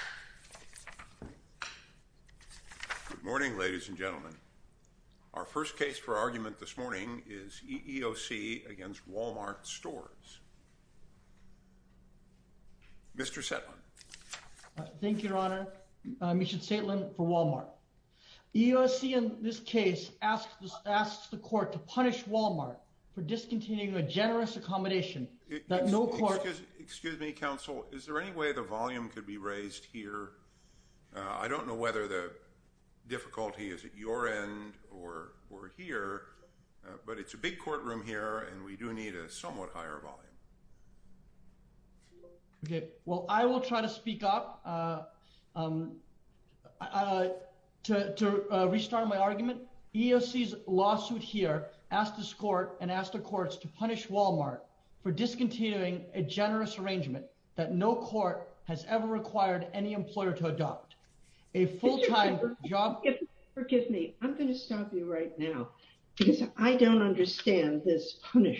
EEOC v. Wal-Mart Stores, Inc. EEOC v. Wal-Mart Stores, Inc. Excuse me... I don't understand this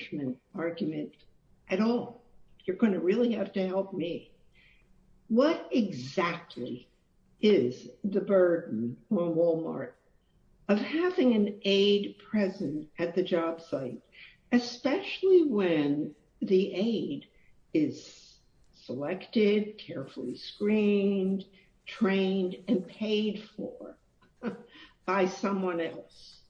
punishment argument at all. You're going to really have to help me. What exactly is the burden on Wal-Mart of having an aid present at the job site? Especially when the aid is selected, carefully screened, trained, and paid for by someone else.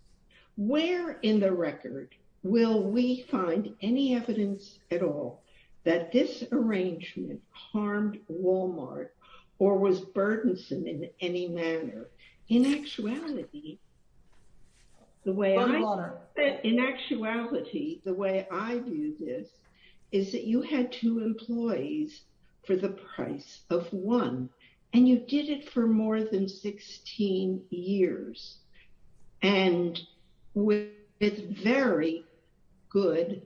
Where in the record will we find any evidence at all that this arrangement harmed Wal-Mart or was burdensome in any manner? In actuality, the way I view this is that you had two employees for the price of one. And you did it for more than 16 years. And with very good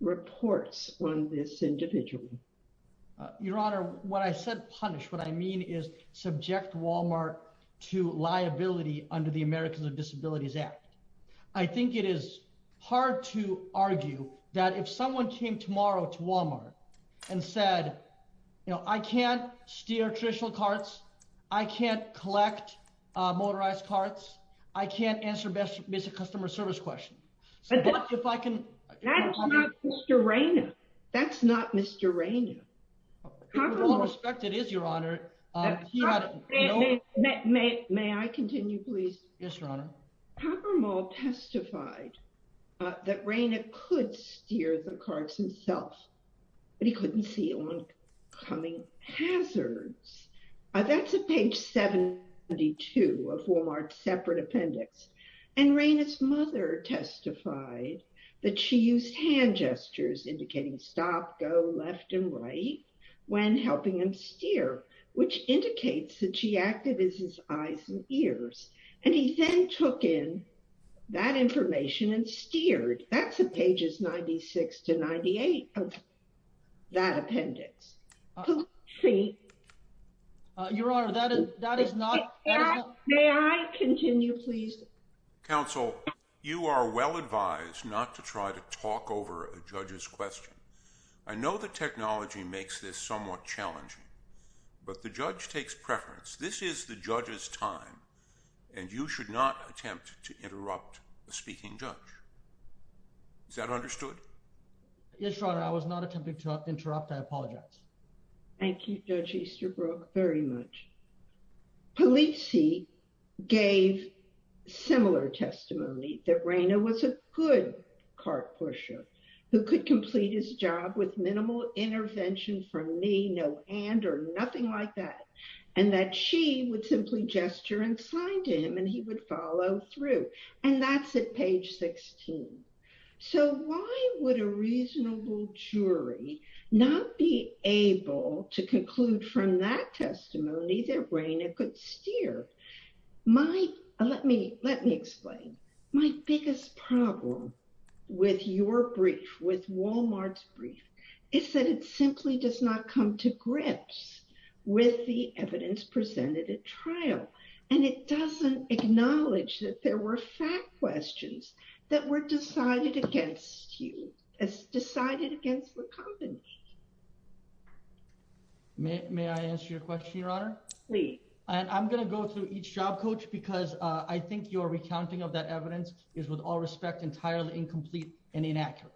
reports on this individual. Your Honor, when I said punish, what I mean is subject Wal-Mart to liability under the Americans with Disabilities Act. I think it is hard to argue that if someone came tomorrow to Wal-Mart and said, you know, I can't steer traditional carts. I can't collect motorized carts. I can't answer basic customer service questions. But if I can... That's not Mr. Rayner. That's not Mr. Rayner. With all respect, it is, Your Honor. May I continue, please? Yes, Your Honor. Well, Popper Mall testified that Rayner could steer the carts himself. But he couldn't see oncoming hazards. That's at page 72 of Wal-Mart's separate appendix. And Rayner's mother testified that she used hand gestures indicating stop, go, left, and right which indicates that she acted as his eyes and ears. And he then took in that information and steered. That's at pages 96 to 98 of that appendix. Your Honor, that is not... May I continue, please? Counsel, you are well advised not to try to talk over a judge's question. I know the technology makes this somewhat challenging, but the judge takes preference. This is the judge's time, and you should not attempt to interrupt a speaking judge. Is that understood? Yes, Your Honor. I was not attempting to interrupt. I apologize. Thank you, Judge Easterbrook, very much. Polizzi gave similar testimony that Rayner was a good cart pusher who could complete his job with minimal intervention from me, no hand, or nothing like that, and that she would simply gesture and sign to him and he would follow through. And that's at page 16. So why would a reasonable jury not be able to conclude from that testimony that Rayner could steer? Let me explain. My biggest problem with your brief, with Walmart's brief, is that it simply does not come to grips with the evidence presented at trial, and it doesn't acknowledge that there were fact questions that were decided against you, decided against the company. May I answer your question, Your Honor? Please. I'm going to go through each job coach because I think your recounting of that evidence is, with all respect, entirely incomplete and inaccurate.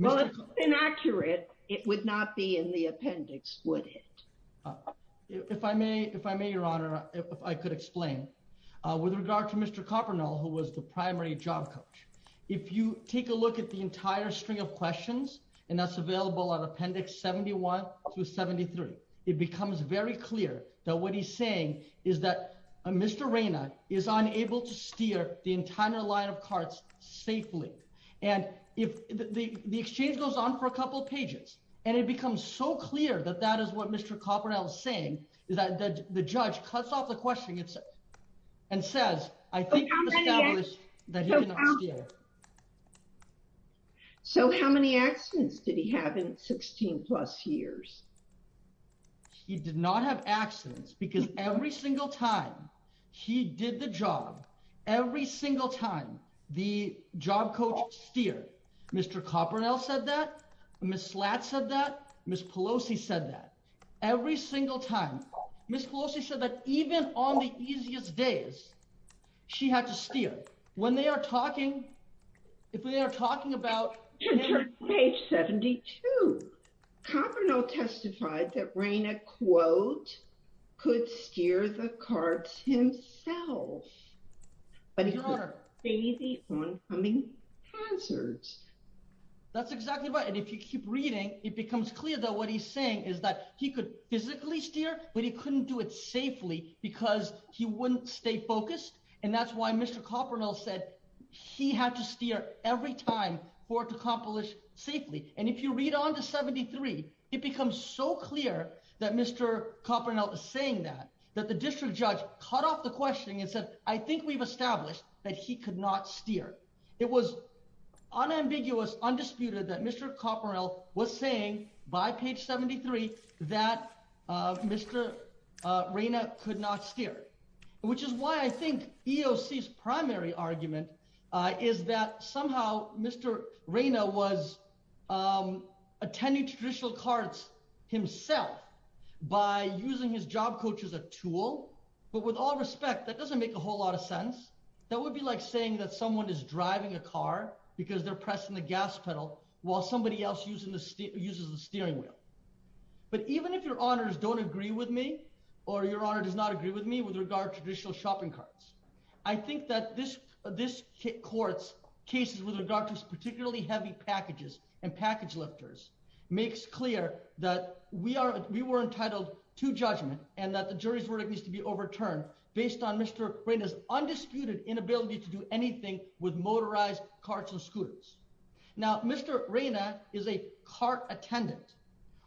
Well, if it's inaccurate, it would not be in the appendix, would it? If I may, Your Honor, if I could explain. With regard to Mr. Kopernol, who was the primary job coach, if you take a look at the entire string of questions, and that's available on Appendix 71 through 73, it becomes very clear that what he's saying is that Mr. Rayner is unable to steer the entire line of carts safely. And the exchange goes on for a couple of pages, and it becomes so clear that that is what Mr. Kopernol is saying, that the judge cuts off the question and says, I think you've established that he did not steer. So how many accidents did he have in 16-plus years? He did not have accidents because every single time he did the job, every single time, the job coach steered. Mr. Kopernol said that. Ms. Slatt said that. Ms. Pelosi said that. Every single time. Ms. Pelosi said that even on the easiest days, she had to steer. When they are talking, if they are talking about... Enter page 72. Kopernol testified that Rayner, quote, could steer the carts himself. But he could... ...oncoming hazards. That's exactly right. And if you keep reading, it becomes clear that what he's saying is that he could physically steer, but he couldn't do it safely because he wouldn't stay focused. And that's why Mr. Kopernol said he had to steer every time for it to accomplish safely. And if you read on to 73, it becomes so clear that Mr. Kopernol is saying that, that the district judge cut off the questioning and said, I think we've established that he could not steer. It was unambiguous, undisputed, that Mr. Kopernol was saying by page 73 that Mr. Rayner could not steer, which is why I think EOC's primary argument is that somehow Mr. Rayner was attending traditional carts himself by using his job coach as a tool. But with all respect, that doesn't make a whole lot of sense. That would be like saying that someone is driving a car because they're pressing the gas pedal while somebody else uses the steering wheel. But even if Your Honours don't agree with me or Your Honour does not agree with me with regard to traditional shopping carts, I think that this court's cases with regard to particularly heavy packages and package lifters makes clear that we were entitled to judgment and that the jury's verdict needs to be overturned based on Mr. Rayner's undisputed inability to do anything with motorized carts and scooters. Now, Mr. Rayner is a cart attendant.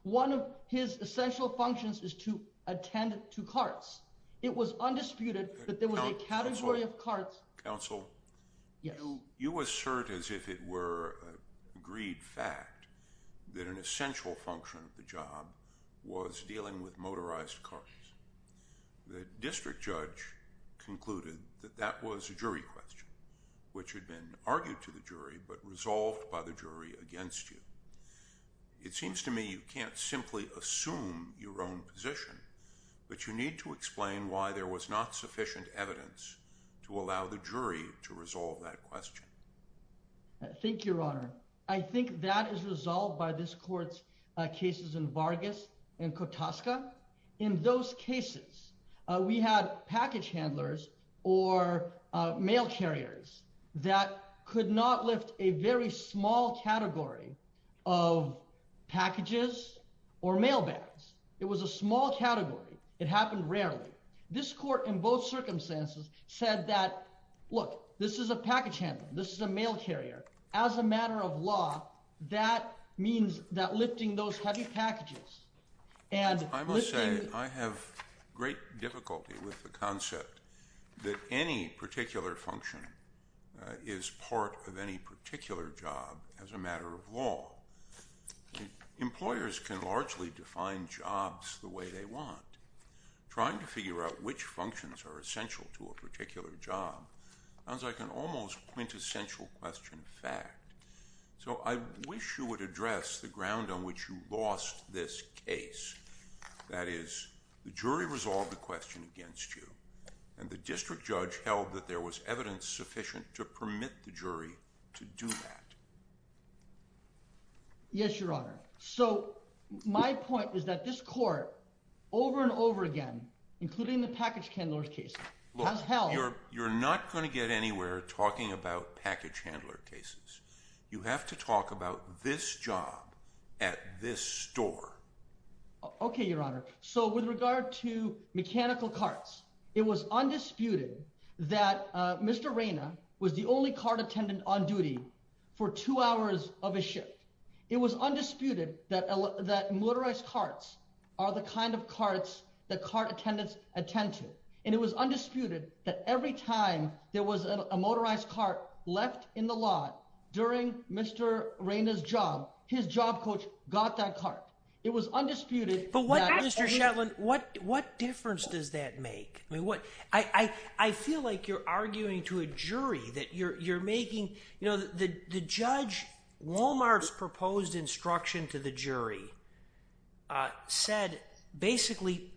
One of his essential functions is to attend to carts. It was undisputed that there was a category of carts- as if it were a greed fact- that an essential function of the job was dealing with motorized carts. The district judge concluded that that was a jury question which had been argued to the jury but resolved by the jury against you. It seems to me you can't simply assume your own position, but you need to explain why there was not sufficient evidence to allow the jury to resolve that question. Thank you, Your Honour. I think that is resolved by this court's cases in Vargas and Kutaska. In those cases, we had package handlers or mail carriers that could not lift a very small category of packages or mail bags. It was a small category. It happened rarely. This court in both circumstances said that, look, this is a package handler, this is a mail carrier. As a matter of law, that means that lifting those heavy packages... I must say I have great difficulty with the concept that any particular function is part of any particular job as a matter of law. Employers can largely define jobs the way they want. Trying to figure out which functions are essential to a particular job sounds like an almost quintessential question of fact. So I wish you would address the ground on which you lost this case. That is, the jury resolved the question against you and the district judge held that there was evidence sufficient to permit the jury to do that. Yes, Your Honour. So my point is that this court, over and over again, including the package handler case, has held... You're not going to get anywhere talking about package handler cases. You have to talk about this job at this store. Okay, Your Honour. So with regard to mechanical carts, it was undisputed that Mr. Reyna was the only cart attendant on duty for two hours of his shift. It was undisputed that motorized carts are the kind of carts that cart attendants attend to. And it was undisputed that every time there was a motorized cart left in the lot during Mr. Reyna's job, his job coach got that cart. It was undisputed that... But Mr. Shetland, what difference does that make? I feel like you're arguing to a jury that you're making... You know, the judge... Walmart's proposed instruction to the jury basically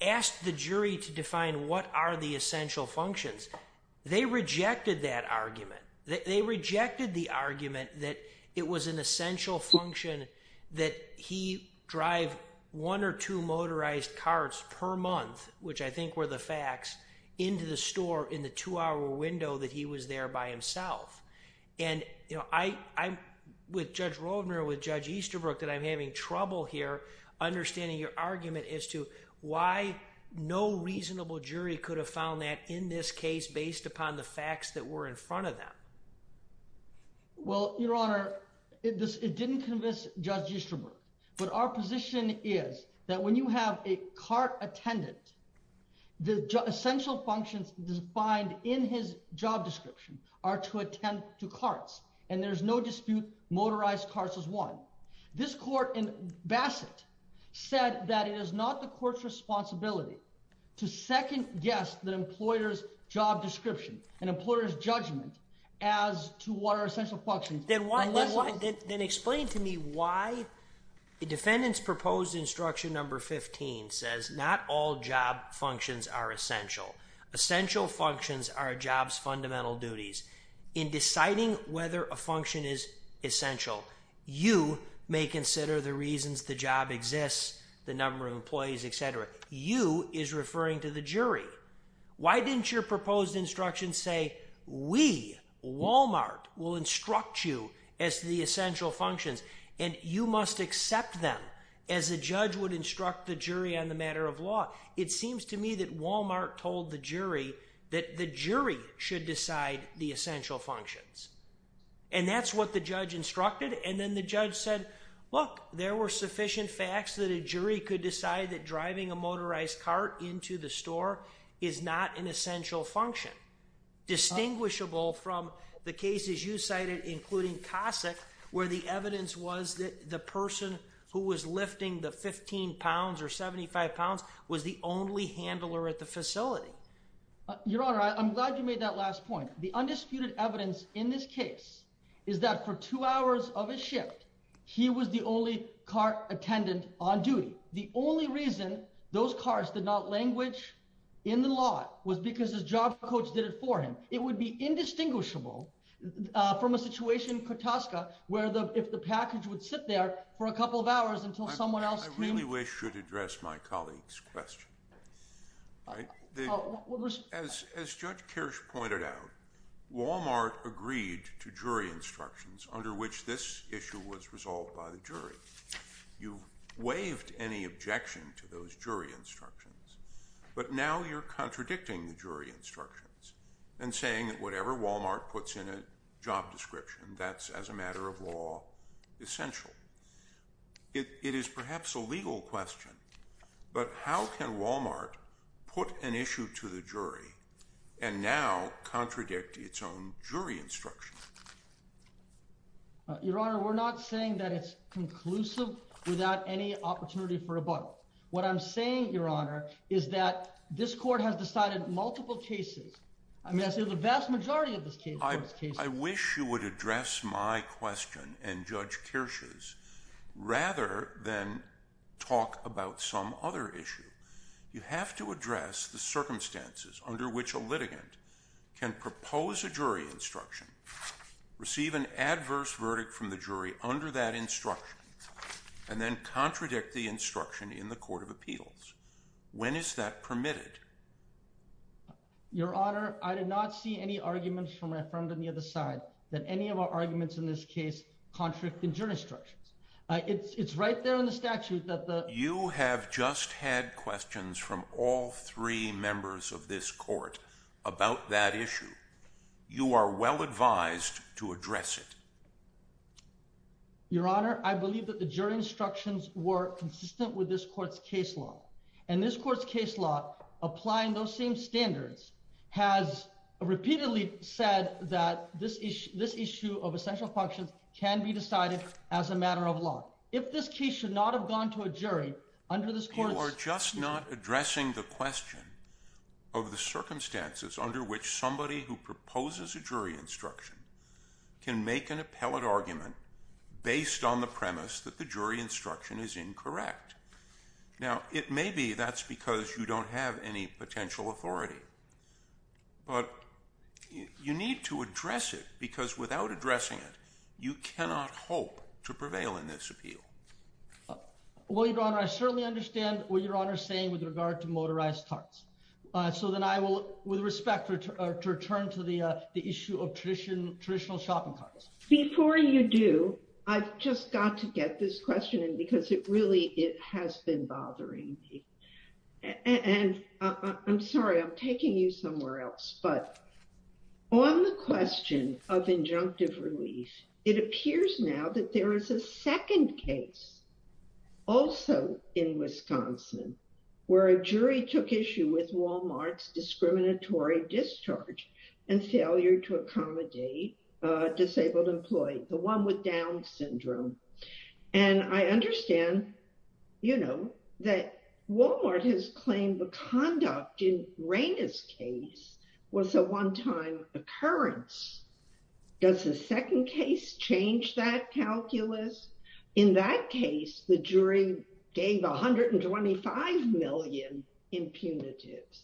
asked the jury to define what are the essential functions. They rejected that argument. They rejected the argument that it was an essential function that he drive one or two motorized carts per month, which I think were the facts, into the store in the two-hour window that he was there by himself. And, you know, I'm... With Judge Roldner, with Judge Easterbrook, that I'm having trouble here understanding your argument as to why no reasonable jury could have found that in this case based upon the facts that were in front of them. Well, Your Honour, it didn't convince Judge Easterbrook. But our position is that when you have a cart attendant, the essential functions defined in his job description are to attend to carts, and there's no dispute motorized carts is one. This court in Bassett said that it is not the court's responsibility to second-guess the employer's job description and employer's judgment as to what are essential functions. Then explain to me why the defendant's proposed instruction number 15 says not all job functions are essential. Essential functions are a job's fundamental duties. In deciding whether a function is essential, you may consider the reasons the job exists, the number of employees, etc. You is referring to the jury. Why didn't your proposed instruction say, we, Walmart, will instruct you as to the essential functions, and you must accept them as a judge would instruct the jury on the matter of law? It seems to me that Walmart told the jury that the jury should decide the essential functions. And that's what the judge instructed, and then the judge said, look, there were sufficient facts that a jury could decide that driving a motorized cart into the store is not an essential function. Distinguishable from the cases you cited, including Cossack, where the evidence was that the person who was lifting the 15 pounds or 75 pounds was the only handler at the facility. Your Honor, I'm glad you made that last point. The undisputed evidence in this case is that for two hours of his shift, he was the only car attendant on duty. The only reason those cars did not languish in the lot was because his job coach did it for him. So it would be indistinguishable from a situation in Kutowska where if the package would sit there for a couple of hours until someone else came... I really wish you'd address my colleague's question. As Judge Kirsch pointed out, Walmart agreed to jury instructions under which this issue was resolved by the jury. You've waived any objection to those jury instructions, but now you're contradicting the jury instructions and saying that whatever Walmart puts in a job description, that's, as a matter of law, essential. It is perhaps a legal question, but how can Walmart put an issue to the jury and now contradict its own jury instruction? Your Honor, we're not saying that it's conclusive without any opportunity for rebuttal. What I'm saying, Your Honor, is that this Court has decided multiple cases. The vast majority of these cases... I wish you would address my question and Judge Kirsch's rather than talk about some other issue. You have to address the circumstances under which a litigant can propose a jury instruction, receive an adverse verdict from the jury under that instruction, and then contradict the instruction in the Court of Appeals. When is that permitted? Your Honor, I did not see any arguments from my friend on the other side that any of our arguments in this case contradict the jury instructions. It's right there in the statute that the... You have just had questions from all three members of this Court about that issue. You are well advised to address it. Your Honor, I believe that the jury instructions were consistent with this Court's case law. And this Court's case law, applying those same standards, has repeatedly said that this issue of essential functions can be decided as a matter of law. If this case should not have gone to a jury under this Court's... You are just not addressing the question of the circumstances under which somebody who proposes a jury instruction can make an appellate argument based on the premise that the jury instruction is incorrect. Now, it may be that's because you don't have any potential authority. But you need to address it, because without addressing it, you cannot hope to prevail in this appeal. Well, Your Honor, I certainly understand what Your Honor is saying with regard to motorized carts. So then I will, with respect, return to the issue of traditional shopping carts. Before you do, I've just got to get this question in, because it really has been bothering me. And I'm sorry, I'm taking you somewhere else. But on the question of injunctive relief, it appears now that there is a second case, also in Wisconsin, where a jury took issue with Walmart's discriminatory discharge and failure to accommodate disabled employees, the one with Down syndrome. And I understand, you know, that Walmart has claimed the conduct in Raina's case was a one-time occurrence. Does the second case change that calculus? In that case, the jury gave 125 million impunitives.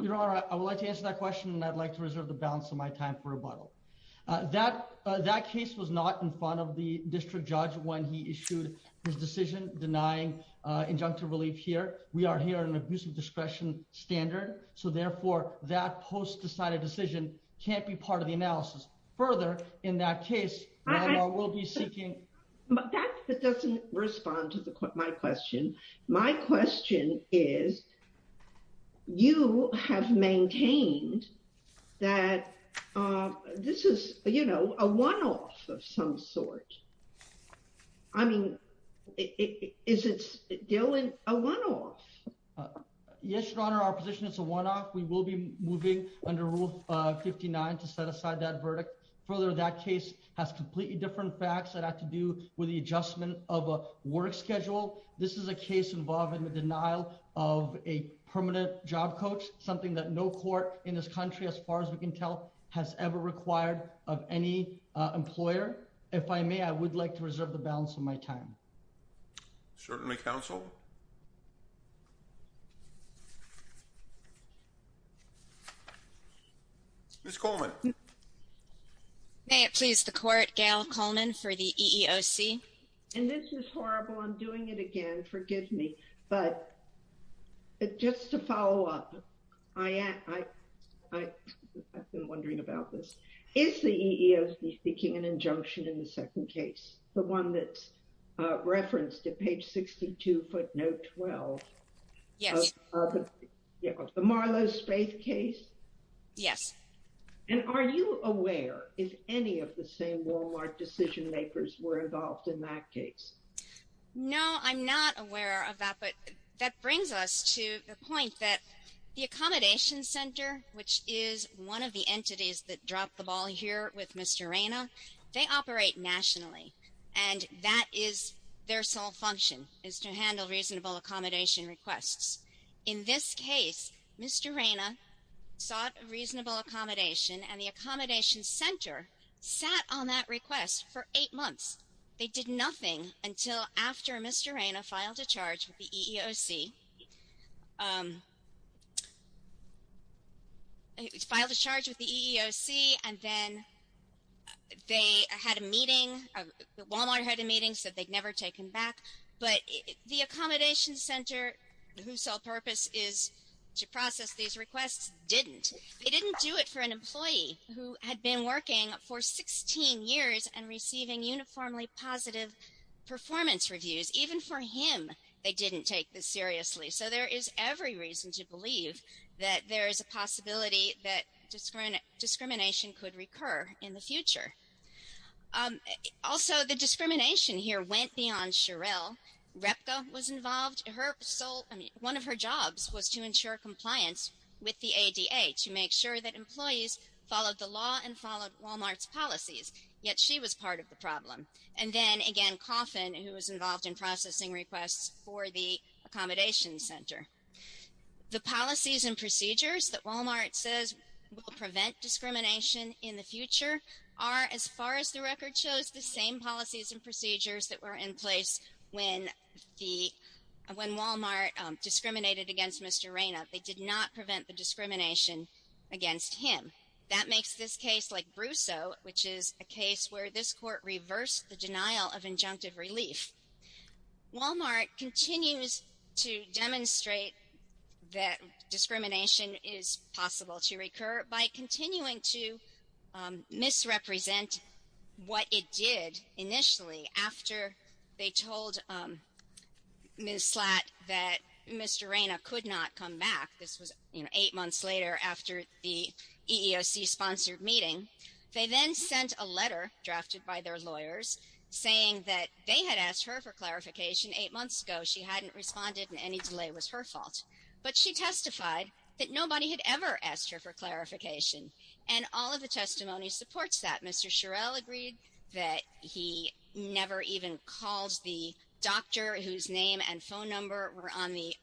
Your Honor, I would like to answer that question, and I'd like to reserve the balance of my time for rebuttal. That case was not in front of the district judge when he issued his decision denying injunctive relief here. We are here on an abusive discretion standard, so therefore that post-decided decision can't be part of the analysis. Further, in that case, we'll be seeking... That doesn't respond to my question. My question is, you have maintained that this is, you know, a one-off of some sort. I mean, is it still a one-off? Yes, Your Honor, our position is a one-off. We will be moving under Rule 59 to set aside that verdict. Further, that case has completely different facts that have to do with the adjustment of a work schedule. This is a case involving the denial of a permanent job coach, something that no court in this country, as far as we can tell, has ever required of any employer. If I may, I would like to reserve the balance of my time. Certainly, counsel. Ms. Coleman. May it please the court, Gail Coleman for the EEOC. And this is horrible. I'm doing it again. Forgive me. But just to follow up, I've been wondering about this. Is the EEOC seeking an injunction in the second case, the one that's referenced at page 62, footnote 12? Yes. The Marlowe Space case? Yes. And are you aware if any of the same Walmart decision-makers were involved in that case? No, I'm not aware of that. But that brings us to the point that the Accommodation Center, which is one of the entities that dropped the ball here with Mr. Reyna, they operate nationally. And that is their sole function, is to handle reasonable accommodation requests. In this case, Mr. Reyna sought reasonable accommodation, and the Accommodation Center sat on that request for eight months. They did nothing until after Mr. Reyna filed a charge with the EEOC. He filed a charge with the EEOC, and then they had a meeting, Walmart had a meeting, said they'd never take him back. But the Accommodation Center, whose sole purpose is to process these requests, didn't. They didn't do it for an employee who had been working for 16 years and receiving uniformly positive performance reviews. Because even for him, they didn't take this seriously. So there is every reason to believe that there is a possibility that discrimination could recur in the future. Also, the discrimination here went beyond Sherelle. Repka was involved. One of her jobs was to ensure compliance with the ADA, to make sure that employees followed the law and followed Walmart's policies, yet she was part of the problem. And then, again, Coffin, who was involved in processing requests for the Accommodation Center. The policies and procedures that Walmart says will prevent discrimination in the future are, as far as the record shows, the same policies and procedures that were in place when the, when Walmart discriminated against Mr. Reyna. They did not prevent the discrimination against him. That makes this case, like Brusso, which is a case where this court reversed the denial of injunctive relief. Walmart continues to demonstrate that discrimination is possible to recur by continuing to misrepresent what it did initially after they told Ms. Slatt that Mr. Reyna could not come back. This was eight months later after the EEOC-sponsored meeting. They then sent a letter, drafted by their lawyers, saying that they had asked her for clarification eight months ago. She hadn't responded and any delay was her fault. But she testified that nobody had ever asked her for clarification. And all of the testimony supports that. Mr. Shirell agreed that he never even called the doctor, whose name and phone number were on the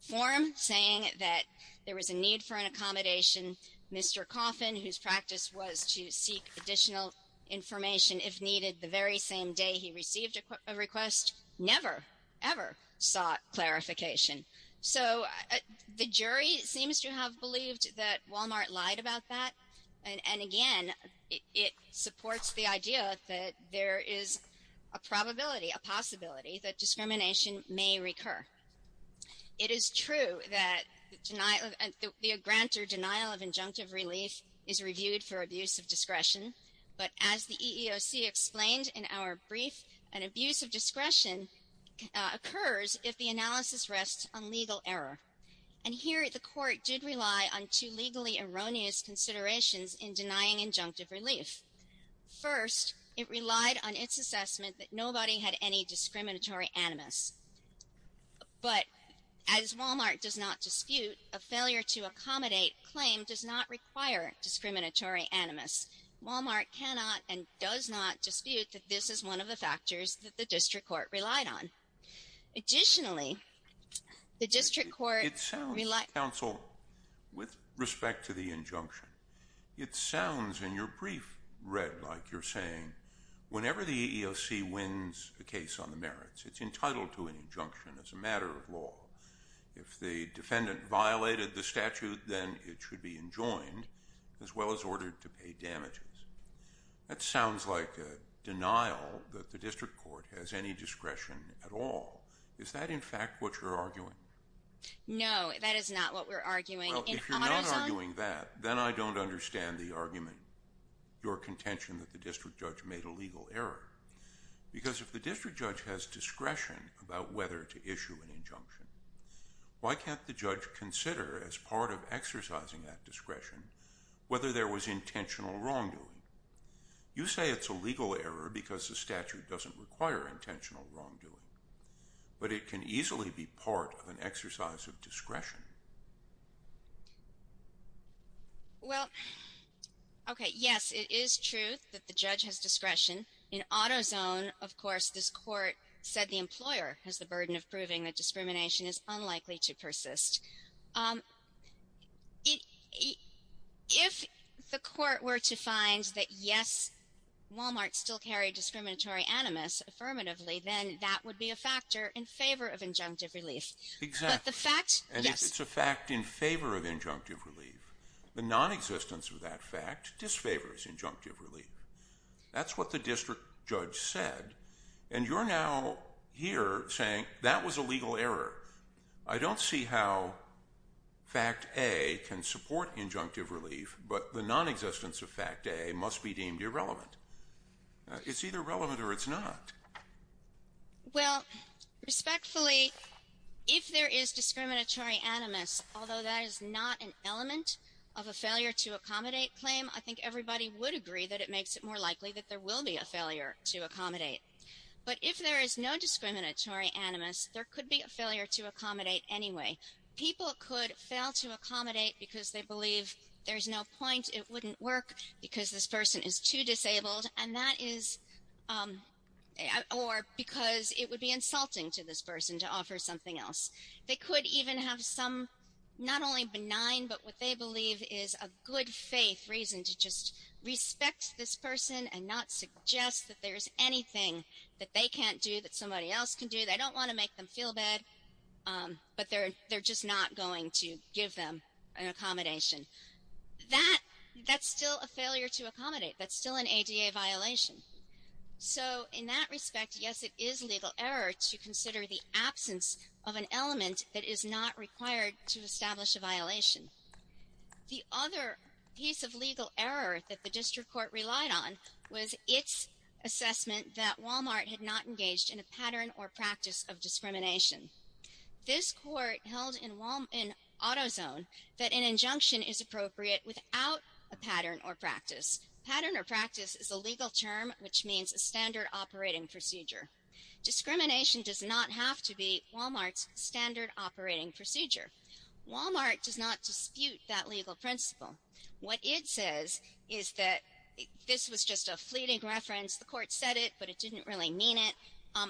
form, saying that there was a need for an accommodation. Mr. Coffin, whose practice was to seek additional information if needed, the very same day he received a request, never, ever sought clarification. So the jury seems to have believed that Walmart lied about that. And, again, it supports the idea that there is a probability, a possibility that discrimination may recur. It is true that the grant or denial of injunctive relief is reviewed for abuse of discretion. But as the EEOC explained in our brief, an abuse of discretion occurs if the analysis rests on legal error. And here the court did rely on two legally erroneous considerations in denying injunctive relief. First, it relied on its assessment that nobody had any discriminatory animus. But as Walmart does not dispute, a failure to accommodate claim does not require discriminatory animus. Walmart cannot and does not dispute that this is one of the factors that the district court relied on. Additionally, the district court relied... It sounds, counsel, with respect to the injunction, it sounds in your brief, Red, like you're saying, whenever the EEOC wins a case on the merits, it's entitled to an injunction as a matter of law. If the defendant violated the statute, then it should be enjoined, as well as ordered to pay damages. That sounds like a denial that the district court has any discretion at all. Is that, in fact, what you're arguing? No, that is not what we're arguing. Well, if you're not arguing that, then I don't understand the argument, your contention that the district judge made a legal error. Because if the district judge has discretion about whether to issue an injunction, why can't the judge consider, as part of exercising that discretion, whether there was intentional wrongdoing? You say it's a legal error because the statute doesn't require intentional wrongdoing, but it can easily be part of an exercise of discretion. Well, okay, yes, it is true that the judge has discretion. In AutoZone, of course, this court said the employer has the burden of proving that discrimination is unlikely to persist. If the court were to find that, yes, Walmart still carried discriminatory animus affirmatively, then that would be a factor in favor of injunctive relief. Exactly. The fact, yes. And if it's a fact in favor of injunctive relief, the nonexistence of that fact disfavors injunctive relief. That's what the district judge said, and you're now here saying that was a legal error. I don't see how Fact A can support injunctive relief, but the nonexistence of Fact A must be deemed irrelevant. It's either relevant or it's not. Well, respectfully, if there is discriminatory animus, although that is not an element of a failure-to-accommodate claim, I think everybody would agree that it makes it more likely that there will be a failure to accommodate. But if there is no discriminatory animus, there could be a failure to accommodate anyway. People could fail to accommodate because they believe there's no point, it wouldn't work because this person is too disabled, or because it would be insulting to this person to offer something else. They could even have some, not only benign, but what they believe is a good-faith reason to just respect this person and not suggest that there's anything that they can't do that somebody else can do. They don't want to make them feel bad, but they're just not going to give them an accommodation. That's still a failure to accommodate. That's still an ADA violation. So in that respect, yes, it is legal error to consider the absence of an element that is not required to establish a violation. The other piece of legal error that the district court relied on was its assessment that Walmart had not engaged in a pattern or practice of discrimination. This court held in AutoZone that an injunction is appropriate without a pattern or practice. Pattern or practice is a legal term which means a standard operating procedure. Discrimination does not have to be Walmart's standard operating procedure. Walmart does not dispute that legal principle. What it says is that this was just a fleeting reference. The court said it, but it didn't really mean it.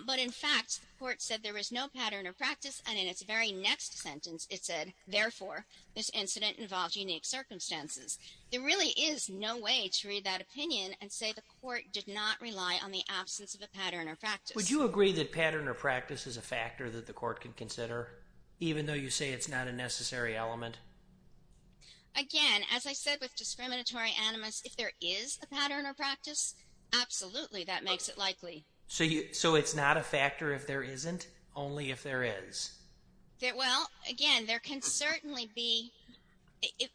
But in fact, the court said there was no pattern or practice, and in its very next sentence it said, therefore, this incident involved unique circumstances. There really is no way to read that opinion and say the court did not rely on the absence of a pattern or practice. Would you agree that pattern or practice is a factor that the court can consider, even though you say it's not a necessary element? Again, as I said with discriminatory animus, if there is a pattern or practice, absolutely that makes it likely. So it's not a factor if there isn't, only if there is? Well, again, there can certainly be...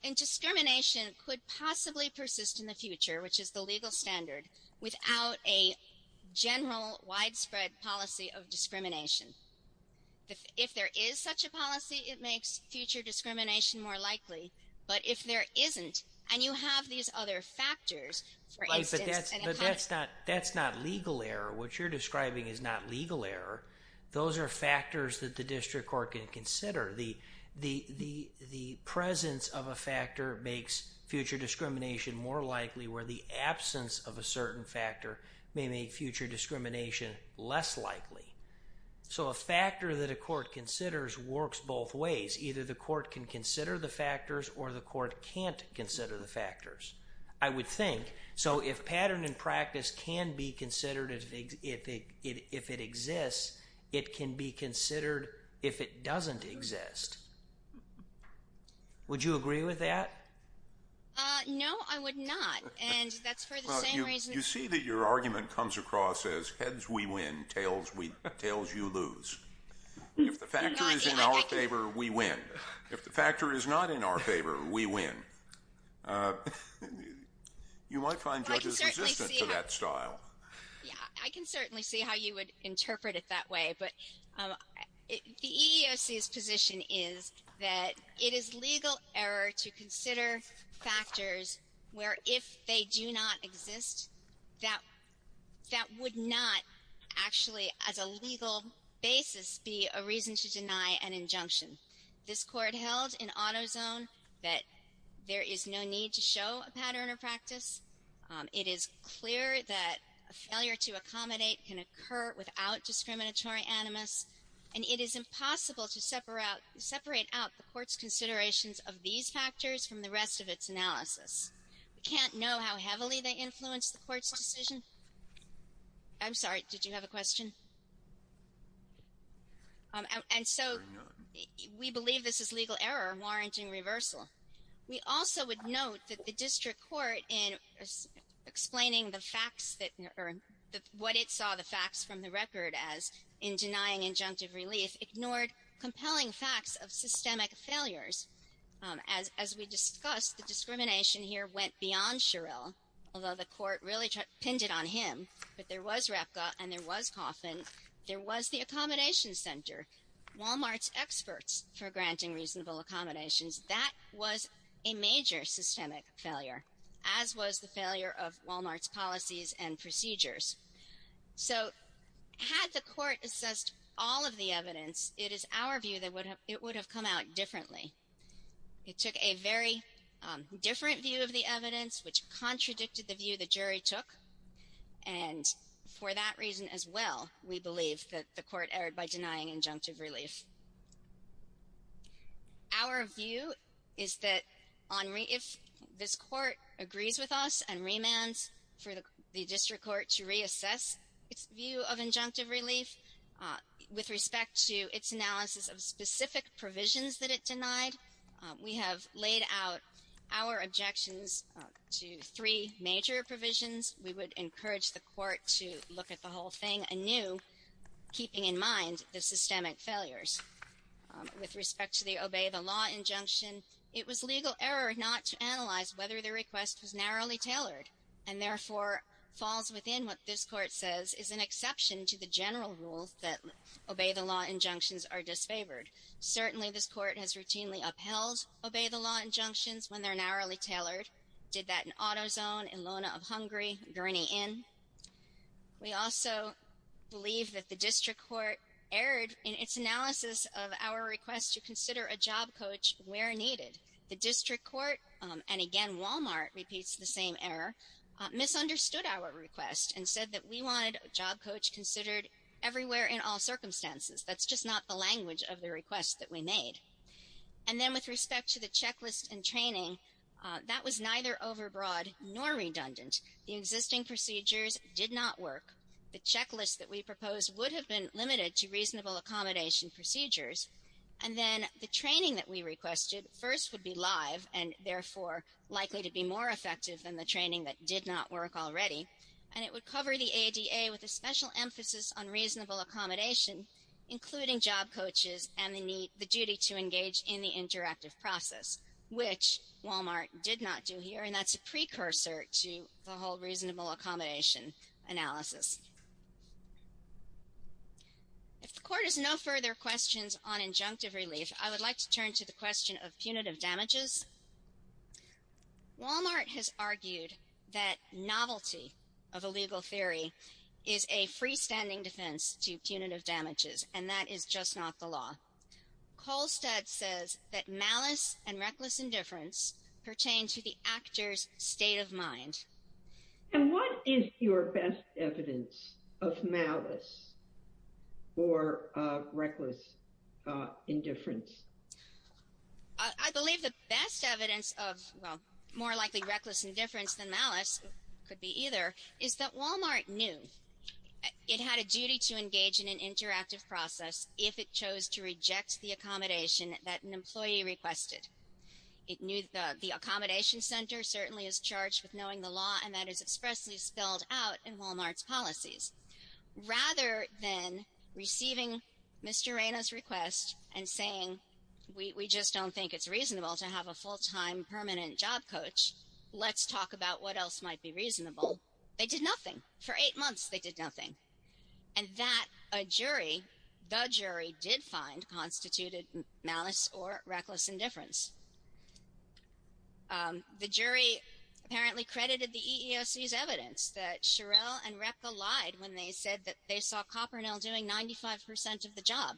And discrimination could possibly persist in the future, which is the legal standard, without a general widespread policy of discrimination. If there is such a policy, it makes future discrimination more likely. But if there isn't, and you have these other factors, for instance... Right, but that's not legal error. What you're describing is not legal error. Those are factors that the district court can consider. The presence of a factor makes future discrimination more likely, where the absence of a certain factor may make future discrimination less likely. So a factor that a court considers works both ways. Either the court can consider the factors or the court can't consider the factors, I would think. So if pattern and practice can be considered if it exists, it can be considered if it doesn't exist. Would you agree with that? No, I would not, and that's for the same reason... You see that your argument comes across as heads we win, tails you lose. If the factor is in our favor, we win. If the factor is not in our favor, we win. You might find judges resistant to that style. I can certainly see how you would interpret it that way, but the EEOC's position is that it is legal error to consider factors where if they do not exist, that would not actually, as a legal basis, be a reason to deny an injunction. This court held in AutoZone that there is no need to show a pattern or practice. It is clear that a failure to accommodate can occur without discriminatory animus, and it is impossible to separate out the court's considerations of these factors from the rest of its analysis. We can't know how heavily they influence the court's decision. I'm sorry, did you have a question? And so we believe this is legal error warranting reversal. We also would note that the district court, in explaining the facts that, or what it saw the facts from the record as in denying injunctive relief, ignored compelling facts of systemic failures. As we discussed, the discrimination here went beyond Sherrill, although the court really pinned it on him. But there was RAPCA and there was Coffin. There was the Accommodations Center, Walmart's experts for granting reasonable accommodations. That was a major systemic failure, as was the failure of Walmart's policies and procedures. So had the court assessed all of the evidence, it is our view that it would have come out differently. It took a very different view of the evidence, which contradicted the view the jury took, and for that reason as well, we believe that the court erred by denying injunctive relief. Our view is that if this court agrees with us and remands for the district court to reassess its view of injunctive relief with respect to its analysis of specific provisions that it denied, we have laid out our objections to three major provisions. We would encourage the court to look at the whole thing anew, keeping in mind the systemic failures. With respect to the Obey the Law injunction, it was legal error not to analyze whether the request was narrowly tailored and therefore falls within what this court says is an exception to the general rule that Obey the Law injunctions are disfavored. Certainly, this court has routinely upheld Obey the Law injunctions when they're narrowly tailored. Did that in AutoZone, in Lona of Hungary, Gurney Inn. We also believe that the district court erred in its analysis of our request to consider a job coach where needed. The district court, and again Walmart repeats the same error, misunderstood our request and said that we wanted a job coach considered everywhere in all circumstances. That's just not the language of the request that we made. And then with respect to the checklist and training, that was neither overbroad nor redundant. The existing procedures did not work. The checklist that we proposed would have been limited to reasonable accommodation procedures. And then the training that we requested first would be live and, therefore, likely to be more effective than the training that did not work already. And it would cover the ADA with a special emphasis on reasonable accommodation, including job coaches and the duty to engage in the interactive process, which Walmart did not do here. And that's a precursor to the whole reasonable accommodation analysis. If the court has no further questions on injunctive relief, I would like to turn to the question of punitive damages. Walmart has argued that novelty of a legal theory is a freestanding defense to punitive damages, and that is just not the law. Kolstad says that malice and reckless indifference pertain to the actor's state of mind. And what is your best evidence of malice or reckless indifference? I believe the best evidence of, well, more likely reckless indifference than malice could be either, is that Walmart knew it had a duty to engage in an interactive process if it chose to reject the accommodation that an employee requested. It knew the accommodation center certainly is charged with knowing the law, and that is expressly spelled out in Walmart's policies. Rather than receiving Mr. Reyna's request and saying, we just don't think it's reasonable to have a full-time permanent job coach, let's talk about what else might be reasonable. They did nothing. For eight months, they did nothing. And that a jury, the jury, did find constituted malice or reckless indifference. The jury apparently credited the EEOC's evidence that Shirelle and Repka lied when they said that they saw Kopernil doing 95% of the job.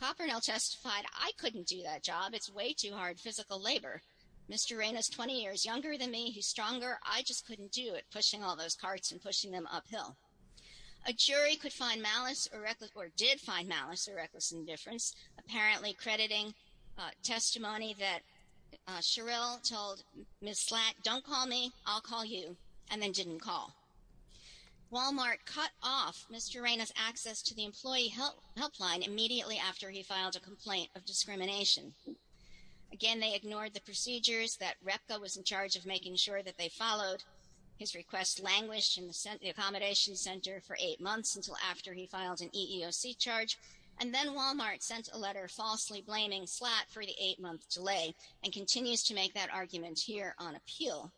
Kopernil testified, I couldn't do that job. It's way too hard physical labor. Mr. Reyna's 20 years younger than me. He's stronger. I just couldn't do it, pushing all those carts and pushing them uphill. A jury could find malice or did find malice or reckless indifference, apparently crediting testimony that Shirelle told Ms. Slack, don't call me, I'll call you, and then didn't call. Walmart cut off Mr. Reyna's access to the employee helpline immediately after he filed a complaint of discrimination. Again, they ignored the procedures that Repka was in charge of making sure that they followed. His request languished in the accommodation center for eight months until after he filed an EEOC charge. And then Walmart sent a letter falsely blaming Slack for the eight-month delay and continues to make that argument here on appeal.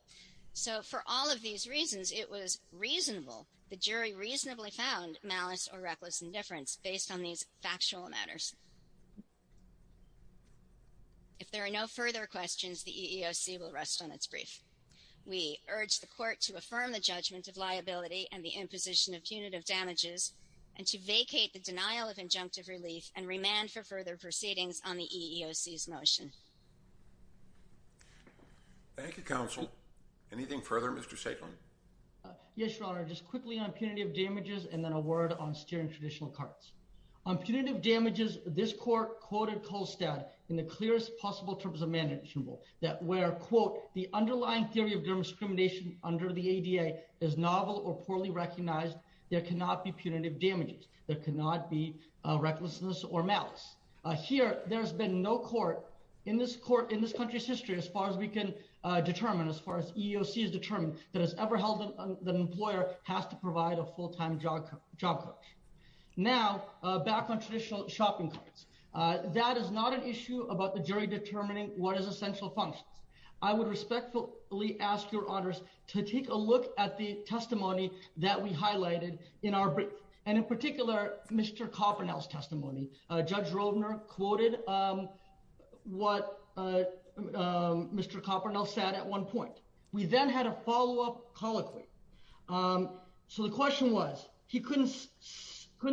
So for all of these reasons, it was reasonable, the jury reasonably found, malice or reckless indifference based on these factual matters. If there are no further questions, the EEOC will rest on its brief. We urge the court to affirm the judgment of liability and the imposition of punitive damages and to vacate the denial of injunctive relief and remand for further proceedings on the EEOC's motion. Thank you, counsel. Anything further, Mr. Saitlan? Yes, Your Honor, just quickly on punitive damages and then a word on steering traditional carts. On punitive damages, this court quoted Kolstad in the clearest possible terms of mandation rule that where, quote, the underlying theory of discrimination under the ADA is novel or poorly recognized, there cannot be punitive damages. There cannot be recklessness or malice. Here, there has been no court in this country's history, as far as we can determine, as far as EEOC has determined, that has ever held that an employer has to provide a full-time job coach. Now, back on traditional shopping carts, that is not an issue about the jury determining what is essential functions. I would respectfully ask Your Honors to take a look at the testimony that we highlighted in our brief. And in particular, Mr. Kopernel's testimony. Judge Roedner quoted what Mr. Kopernel said at one point. We then had a follow-up colloquy. So the question was, he couldn't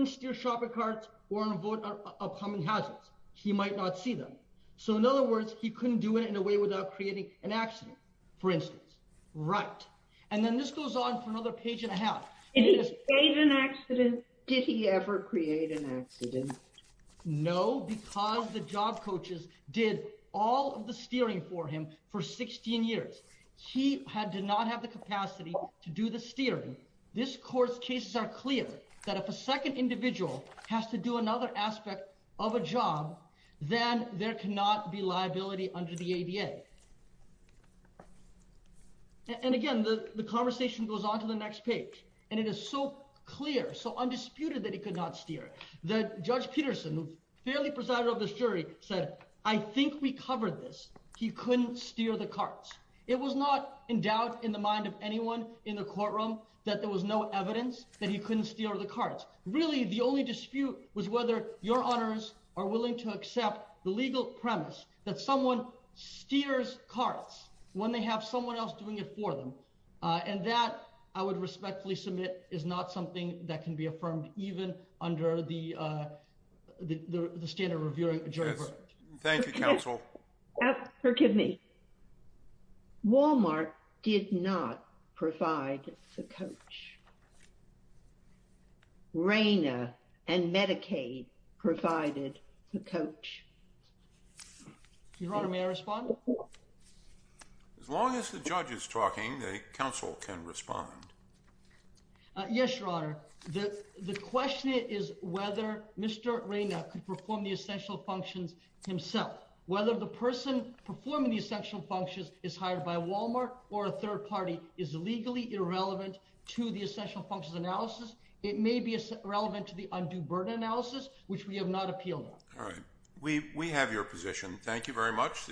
steer shopping carts or invoke upcoming hazards. He might not see them. So in other words, he couldn't do it in a way without creating an accident, for instance. Right. And then this goes on for another page and a half. Did he create an accident? Did he ever create an accident? No, because the job coaches did all of the steering for him for 16 years. He did not have the capacity to do the steering. This court's cases are clear, that if a second individual has to do another aspect of a job, then there cannot be liability under the ADA. And again, the conversation goes on to the next page. And it is so clear, so undisputed that he could not steer. Judge Peterson, who's fairly presided over this jury, said, I think we covered this. He couldn't steer the carts. It was not in doubt in the mind of anyone in the courtroom that there was no evidence that he couldn't steer the carts. Really, the only dispute was whether Your Honors are willing to accept the legal premise that someone steers carts when they have someone else doing it for them. And that I would respectfully submit is not something that can be affirmed, even under the, the, the standard reviewing. Thank you counsel. Forgive me. Walmart did not provide the coach. Raina and Medicaid provided the coach. Your Honor, may I respond? As long as the judge is talking, the counsel can respond. Yes, Your Honor. The question is whether Mr. Raina could perform the essential functions himself, whether the person performing the essential functions is hired by Walmart or a third party is legally irrelevant to the essential functions analysis. It may be relevant to the undue burden analysis, which we have not appealed. All right. We, we have your position. Thank you very much.